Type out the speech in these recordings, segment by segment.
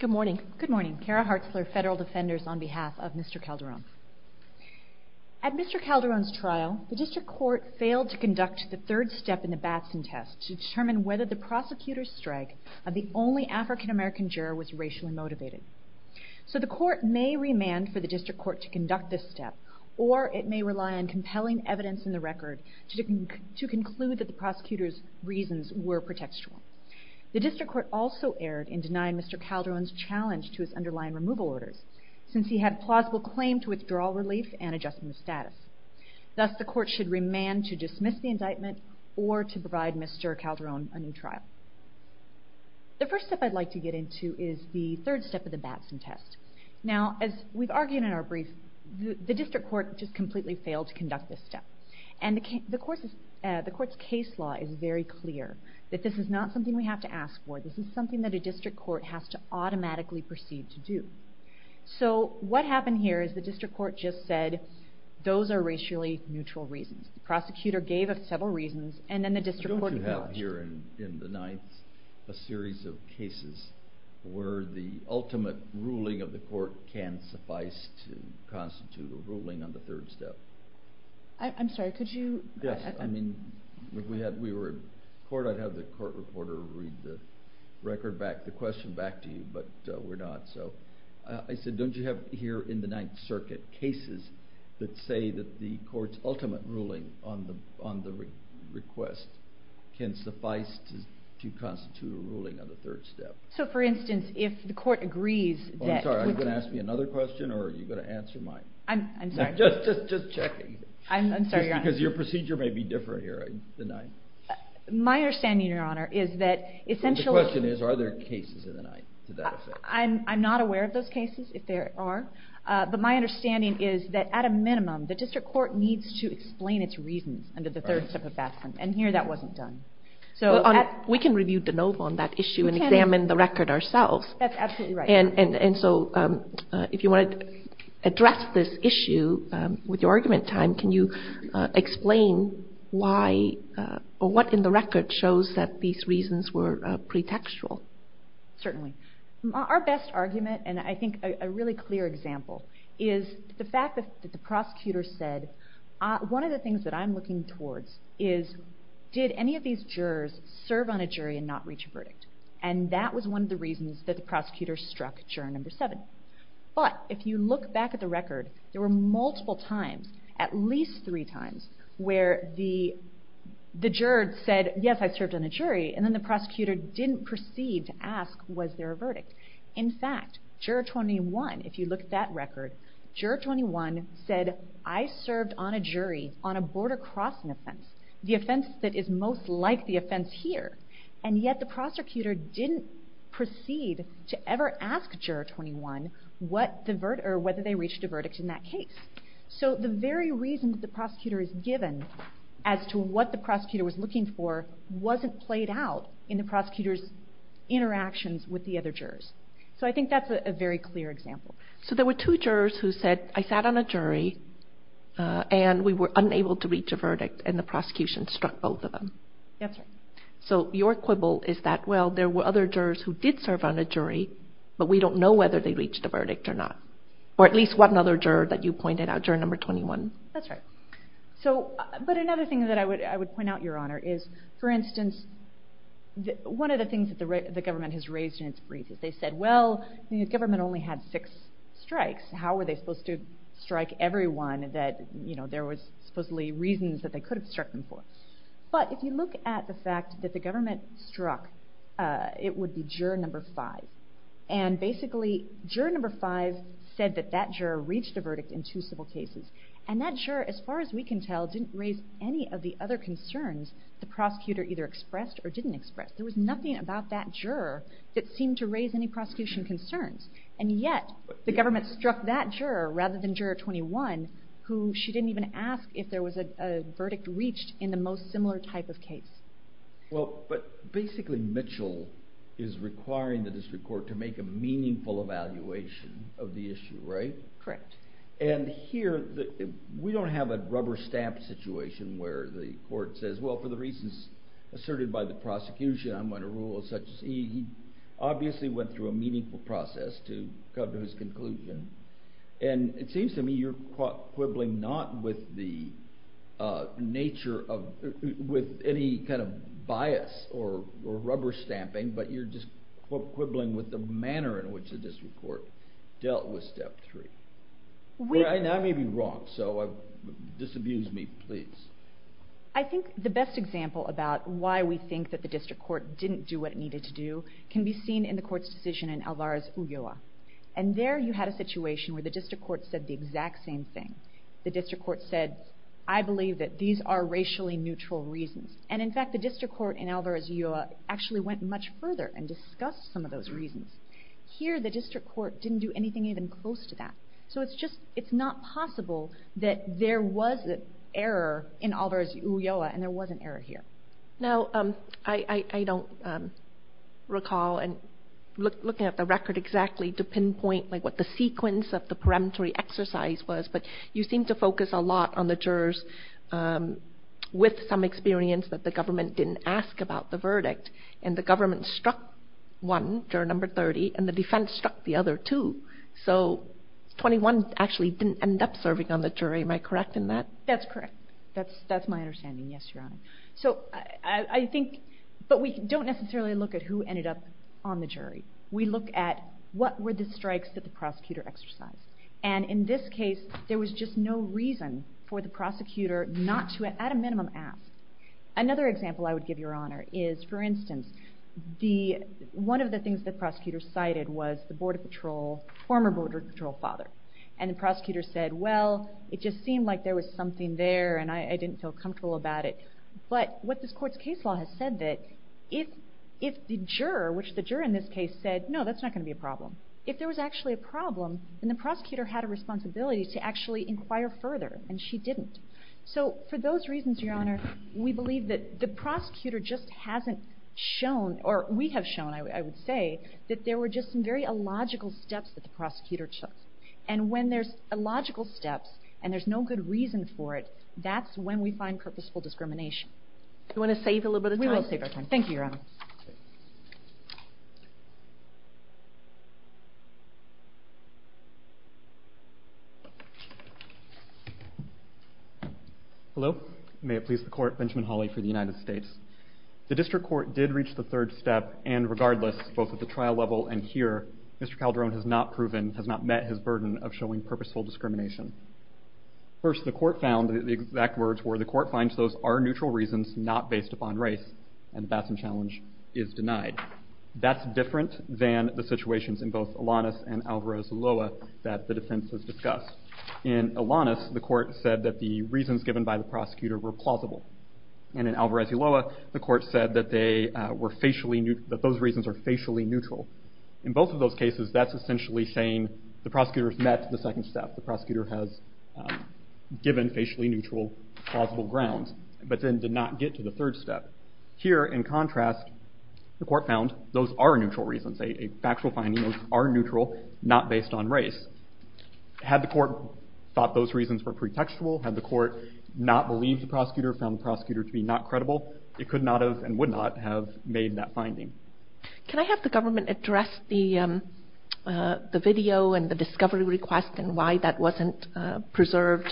Good morning. Good morning. Kara Hartzler, Federal Defenders, on behalf of Mr. Calderon. At Mr. Calderon's trial, the district court failed to conduct the third step in the Batson test to determine whether the prosecutor's strike of the only African-American juror was racially motivated. So the court may remand for the district court to conduct this step, or it may rely on compelling evidence in the record to conclude that the prosecutor's reasons were pretextual. The district court also erred in denying Mr. Calderon's challenge to his underlying removal orders, since he had plausible claim to withdrawal relief and adjustment of status. Thus, the court should remand to dismiss the indictment or to provide Mr. Calderon a new trial. The first step I'd like to get into is the third step of the Batson test. Now, as we've argued in our brief, the district court just completely failed to conduct this step. And the court's case law is very clear, that this is not something we have to ask for. This is something that a district court has to automatically proceed to do. So what happened here is the district court just said, those are racially neutral reasons. The prosecutor gave us several reasons, and then the district court acknowledged. Don't you have here in the ninth a series of cases where the ultimate ruling of the court can suffice to constitute a ruling on the third step? I'm sorry, could you... Yes, I mean, if we were in court, I'd have the court reporter read the record back, the question back to you, but we're not. So I said, don't you have here in the ninth circuit cases that say that the court's ultimate ruling on the request can suffice to constitute a ruling on the third step? So for instance, if the court agrees that... I'm sorry, are you going to ask me another question, or are you going to answer mine? I'm sorry. Just checking, because your procedure may be different here in the ninth. My understanding, Your Honor, is that essentially... The question is, are there cases in the ninth to that effect? I'm not aware of those cases, if there are, but my understanding is that at a minimum, the district court needs to explain its reasons under the third step of Batson, and here that wasn't done. We can review De Novo on that issue and examine the record ourselves. That's absolutely right. And so if you want to address this issue with your argument time, can you explain why, or what in the record shows that these reasons were pretextual? Certainly. Our best argument, and I think a really clear example, is the fact that the prosecutor said, one of the things that I'm looking towards is, did any of these jurors serve on a jury and not reach a verdict? And that was one of the reasons that the prosecutor struck juror number seven. But if you look back at the record, there were multiple times, at least three times, where the jurors said, yes, I served on a jury, and then the prosecutor didn't proceed to ask, was there a verdict? In fact, juror 21, if you look at that record, juror 21 said, I served on a jury on a border crossing offense, the offense that is most like the offense here, and yet the prosecutor didn't proceed to ever ask juror 21 whether they reached a verdict in that case. So the very reason that the prosecutor is given as to what the prosecutor was looking for wasn't played out in the prosecutor's interactions with the other jurors. So I think that's a very clear example. So there were two jurors who said, I sat on a jury, and we were unable to reach a verdict, and the prosecution struck both of them. That's right. So your quibble is that, well, there were other jurors who did serve on a jury, but we don't know whether they reached a verdict or not. Or at least one other juror that you pointed out, juror number 21. That's right. But another thing that I would point out, Your Honor, is, for instance, one of the things that the government has raised in its brief is they said, well, the government only had six strikes. How were they supposed to strike everyone that there was supposedly reasons that they could have struck them for? But if you look at the fact that the government struck, it would be juror number five. And basically, juror number five said that that juror reached a verdict in two civil cases. And that juror, as far as we can tell, didn't raise any of the other concerns the prosecutor either expressed or didn't express. There was nothing about that juror that seemed to raise any prosecution concerns. And yet, the government struck that juror, rather than she didn't even ask if there was a verdict reached in the most similar type of case. Well, but basically, Mitchell is requiring the district court to make a meaningful evaluation of the issue, right? Correct. And here, we don't have a rubber stamp situation where the court says, well, for the reasons asserted by the prosecution, I'm going to rule as such. He obviously went through a meaningful process to come to his conclusion. And it seems to me you're quibbling not with the nature of, with any kind of bias or rubber stamping, but you're just quibbling with the manner in which the district court dealt with step three. I may be wrong, so disabuse me, please. I think the best example about why we think that the district court didn't do what it needed to do can be seen in the court's decision in Alvarez-Ulloa. And there, you had a situation where the district court said the exact same thing. The district court said, I believe that these are racially neutral reasons. And in fact, the district court in Alvarez-Ulloa actually went much further and discussed some of those reasons. Here, the district court didn't do anything even close to that. So it's just, it's not possible that there was an error in Alvarez-Ulloa, and there was an error here. Now, I don't recall, and looking at the record exactly, to pinpoint like what the sequence of the peremptory exercise was, but you seem to focus a lot on the jurors with some experience that the government didn't ask about the verdict. And the government struck one, juror number 30, and the defense struck the other two. So 21 actually didn't end up serving on the jury. Am I correct in that? That's correct. That's my understanding. Yes, Your Honor. So I think, but we don't necessarily look at who ended up on the jury. We look at what were the strikes that the prosecutor exercised. And in this case, there was just no reason for the prosecutor not to, at a minimum, ask. Another example I would give, Your Honor, is, for instance, the, one of the things the prosecutor cited was the border patrol, former border patrol father. And the prosecutor said, well, it just seemed like there was something there, and I didn't feel comfortable about it. But what this Court's case law has said that if the juror, which the juror in this case said, no, that's not going to be a problem. If there was actually a problem, then the prosecutor had a responsibility to actually inquire further, and she didn't. So for those reasons, Your Honor, we believe that the prosecutor just hasn't shown, or we have shown, I would say, that there were just some very illogical steps that the prosecutor took. And when there's illogical steps, and there's no good reason for it, that's when we find purposeful discrimination. Do you want to save a little bit of time? We will save our time. Thank you, Your Honor. Hello. May it please the Court, Benjamin Hawley for the United States. The District Court did reach the third step, and regardless, both at the trial level and here, Mr. Calderon has not proven, has not met his burden of showing purposeful discrimination. First, the Court found the exact words were, the Court finds those are neutral reasons not based upon race, and the Batson Challenge is denied. That's different than the situations in both Alanis and Alvarez-Iloa that the defense has discussed. In Alanis, the Court said that the reasons given by the prosecutor were plausible. And in Alvarez-Iloa, the Court said that they were facially, that those reasons are facially neutral. In both of those cases, that's essentially saying the prosecutor has met the second step. The prosecutor has given facially neutral plausible grounds, but then did not get to the third step. Here, in contrast, the Court found those are neutral reasons, a factual finding, those are neutral, not based on race. Had the Court thought those reasons were pretextual, had the Court not believed the prosecutor, found the prosecutor to be not credible, it could not have and the video and the discovery request and why that wasn't preserved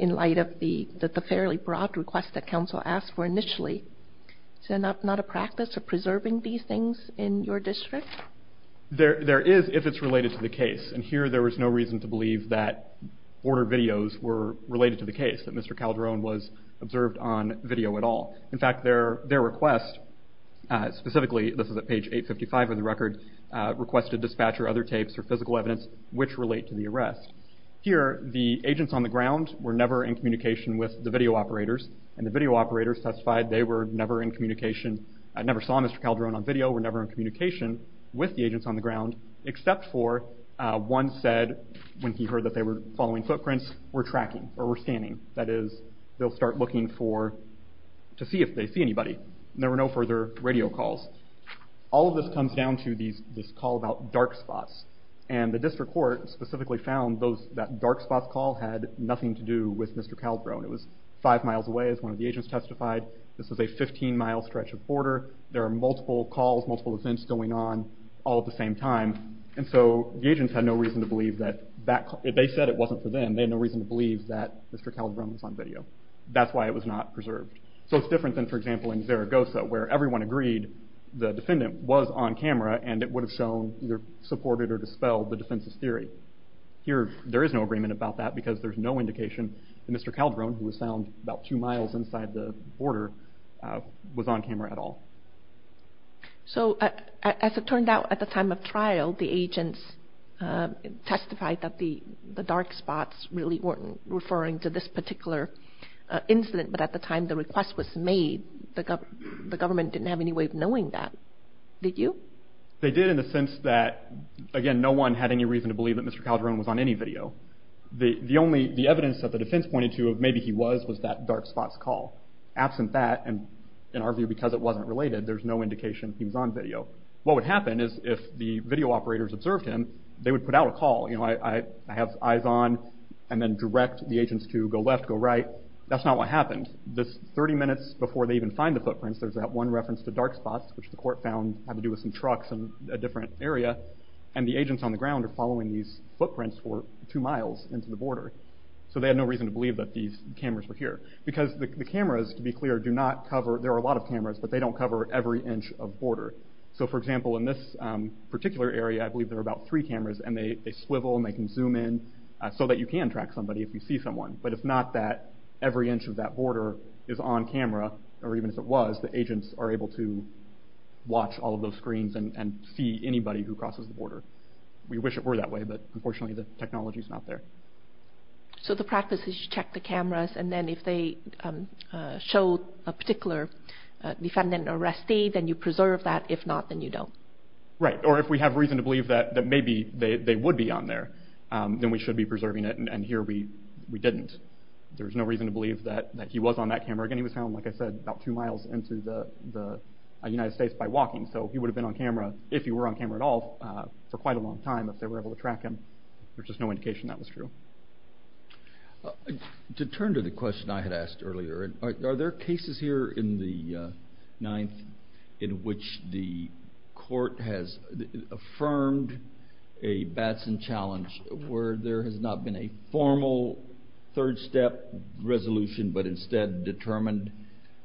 in light of the fairly broad request that counsel asked for initially. Is that not a practice of preserving these things in your district? There is, if it's related to the case. And here, there was no reason to believe that order videos were related to the case, that Mr. Calderon was observed on video at all. In fact, their request, specifically, this is at page 855 of the record, requested dispatcher other tapes or physical evidence which relate to the arrest. Here, the agents on the ground were never in communication with the video operators, and the video operators testified they were never in communication, never saw Mr. Calderon on video, were never in communication with the agents on the ground, except for one said, when he heard that they were following footprints, were tracking or were scanning. That is, they'll start looking for, to see if they see anybody. There were no further radio calls. All of this comes down to this call about dark spots. And the district court specifically found that dark spots call had nothing to do with Mr. Calderon. It was five miles away, as one of the agents testified. This was a 15-mile stretch of border. There are multiple calls, multiple events going on all at the same time. And so the agents had no reason to believe that that, they said it wasn't for them. They had no reason to believe that Mr. Calderon was on video. That's why it was not preserved. So it's different than, for example, in Zaragoza, where everyone agreed the defendant was on either supported or dispelled the defense's theory. Here, there is no agreement about that because there's no indication that Mr. Calderon, who was found about two miles inside the border, was on camera at all. So as it turned out, at the time of trial, the agents testified that the dark spots really weren't referring to this particular incident. But at the time the request was made, the government didn't have any way of knowing that. Did you? They did in the sense that, again, no one had any reason to believe that Mr. Calderon was on any video. The only, the evidence that the defense pointed to of maybe he was, was that dark spots call. Absent that, and in our view because it wasn't related, there's no indication he was on video. What would happen is if the video operators observed him, they would put out a call, you know, I have eyes on, and then direct the agents to go left, go right. That's not what happened. This 30 minutes before they even find the footprints, there's that one reference to dark spots, which the court found had to do with some trucks in a different area. And the agents on the ground are following these footprints for two miles into the border. So they had no reason to believe that these cameras were here. Because the cameras, to be clear, do not cover, there are a lot of cameras, but they don't cover every inch of border. So for example, in this particular area, I believe there are about three cameras, and they swivel and they can zoom in so that you can track somebody if you see someone. But it's not that every inch of that border is on camera, or even if it was, the agents are able to watch all of those screens and see anybody who crosses the border. We wish it were that way, but unfortunately the technology is not there. So the practice is you check the cameras, and then if they show a particular defendant arrestee, then you preserve that. If not, then you don't. Right. Or if we have reason to believe that maybe they would be on there, then we should be preserving it. And here we didn't. There was no reason to believe that he was on that border. He was able to get a few miles into the United States by walking, so he would have been on camera, if he were on camera at all, for quite a long time if they were able to track him. There's just no indication that was true. To turn to the question I had asked earlier, are there cases here in the Ninth in which the court has affirmed a Batson challenge where there has not been a formal third step resolution, but instead determined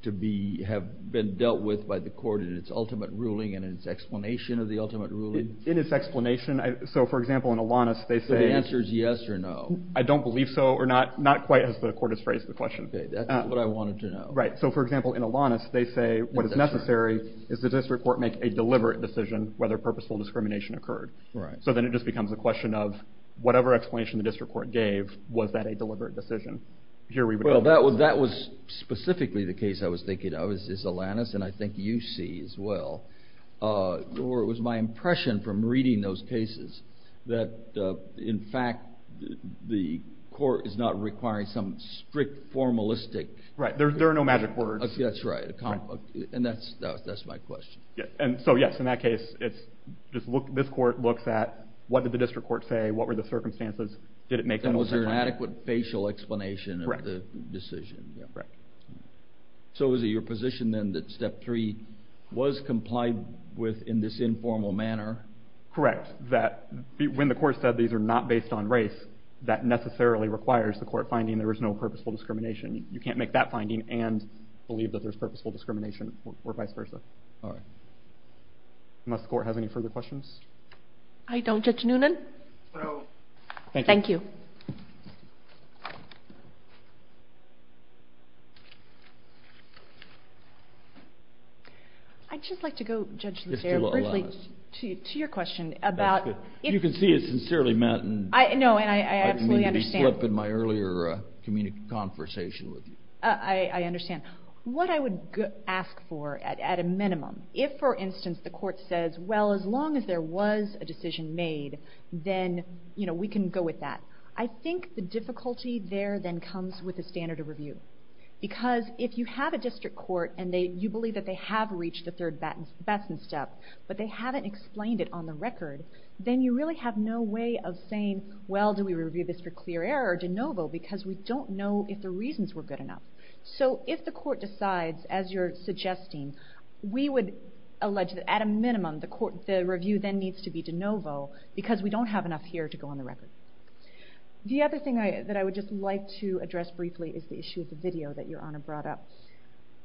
to be, have been dealt with by the court in its ultimate ruling and its explanation of the ultimate ruling? In its explanation, so for example in Alanis, they say... So the answer is yes or no? I don't believe so, or not quite as the court has phrased the question. Okay, that's what I wanted to know. Right. So for example in Alanis, they say what is necessary is the district court make a deliberate decision whether purposeful discrimination occurred. So then it just becomes a question of whatever explanation the district court gave, was that a deliberate decision? Well that was specifically the case I was thinking of, is Alanis, and I think you see as well, or it was my impression from reading those cases that in fact the court is not requiring some strict formalistic... Right, there are no magic words. That's right, and that's my question. And so yes, in that case, this court looks at what did the district court say, what were the circumstances, did it make them... And was there an adequate facial explanation of the decision? Correct. So is it your position then that step three was complied with in this informal manner? Correct, that when the court said these are not based on race, that necessarily requires the court finding there is no purposeful discrimination. You can't make that finding and believe that there's purposeful discrimination or vice versa. All right. Unless the court has any further questions? I don't, Judge Noonan. Thank you. Thank you. I'd just like to go, Judge Lucero, briefly to your question about... That's good. You can see it's sincerely meant, and I mean to be flip in my earlier conversation with you. I understand. What I would ask for at a minimum, if for instance the court says, well, as long as there's a standard of review, then we can go with that. I think the difficulty there then comes with the standard of review. Because if you have a district court and you believe that they have reached the third Batson step, but they haven't explained it on the record, then you really have no way of saying, well, do we review this for clear error or de novo because we don't know if the reasons were good enough. So if the court decides, as you're suggesting, we would allege that at a minimum the review then needs to be de novo because we don't have enough here to go on the record. The other thing that I would just like to address briefly is the issue of the video that Your Honor brought up.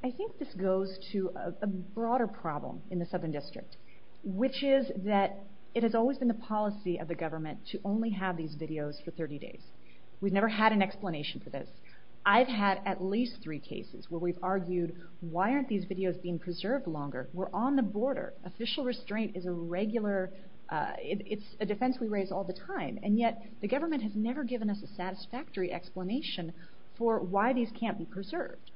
I think this goes to a broader problem in the Southern District, which is that it has always been the policy of the government to only have these videos for 30 days. We've never had an explanation for this. I've had at least three cases where we've argued, why aren't these videos being preserved longer? We're on the border. Official restraint is a defense we raise all the time, and yet the government has never given us a satisfactory explanation for why these can't be preserved.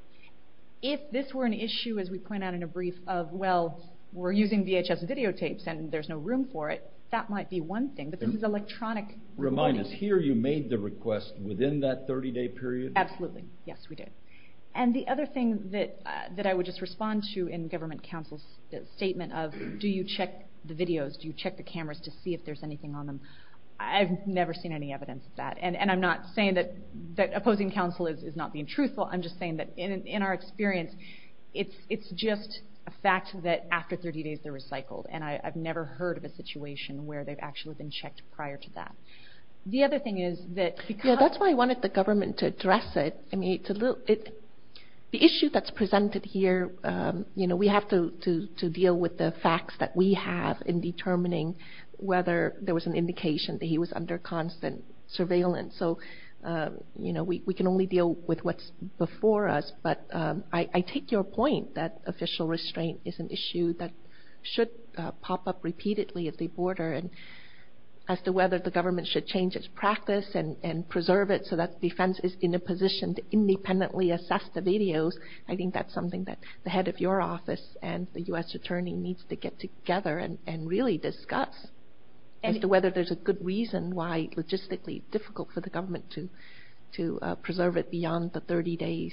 If this were an issue, as we point out in a brief, of, well, we're using VHS videotapes and there's no room for it, that might be one thing. But this is electronic recording. Remind us, here you made the request within that 30-day period? Absolutely. Yes, we did. And the other thing that I would just respond to in government counsel's statement of, do you check the videos? Do you check the cameras to see if there's anything on them? I've never seen any evidence of that. And I'm not saying that opposing counsel is not being truthful. I'm just saying that in our experience, it's just a fact that after 30 days, they're recycled. And I've never heard of a situation where they've actually been checked prior to that. The other thing is that because... Yes, that's why I wanted the government to address it. The issue that's presented here, we have to deal with the facts that we have in determining whether there was an indication that he was under constant surveillance. So we can only deal with what's before us. But I take your point that official restraint is an issue that should pop up repeatedly at the border. And as to whether the government should change its practice and preserve it so that the defense is in a position to independently assess the videos, I think that's something that the head of your office and the U.S. Attorney needs to get together and really discuss as to whether there's a good reason why it's logistically difficult for the government to preserve it beyond the 30 days,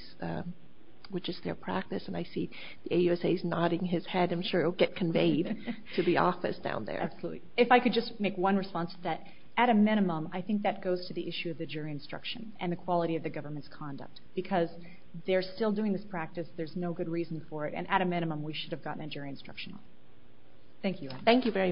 which is their practice. And I see the AUSA is nodding his head. I'm sure it'll get conveyed to the office down there. Absolutely. If I could just make one response to that. At a minimum, I think that goes to the issue of the jury instruction and the quality of the government's conduct. Because they're still doing this practice. There's no good reason for it. And at a minimum, we should have gotten a jury instruction. Thank you. Thank you very much.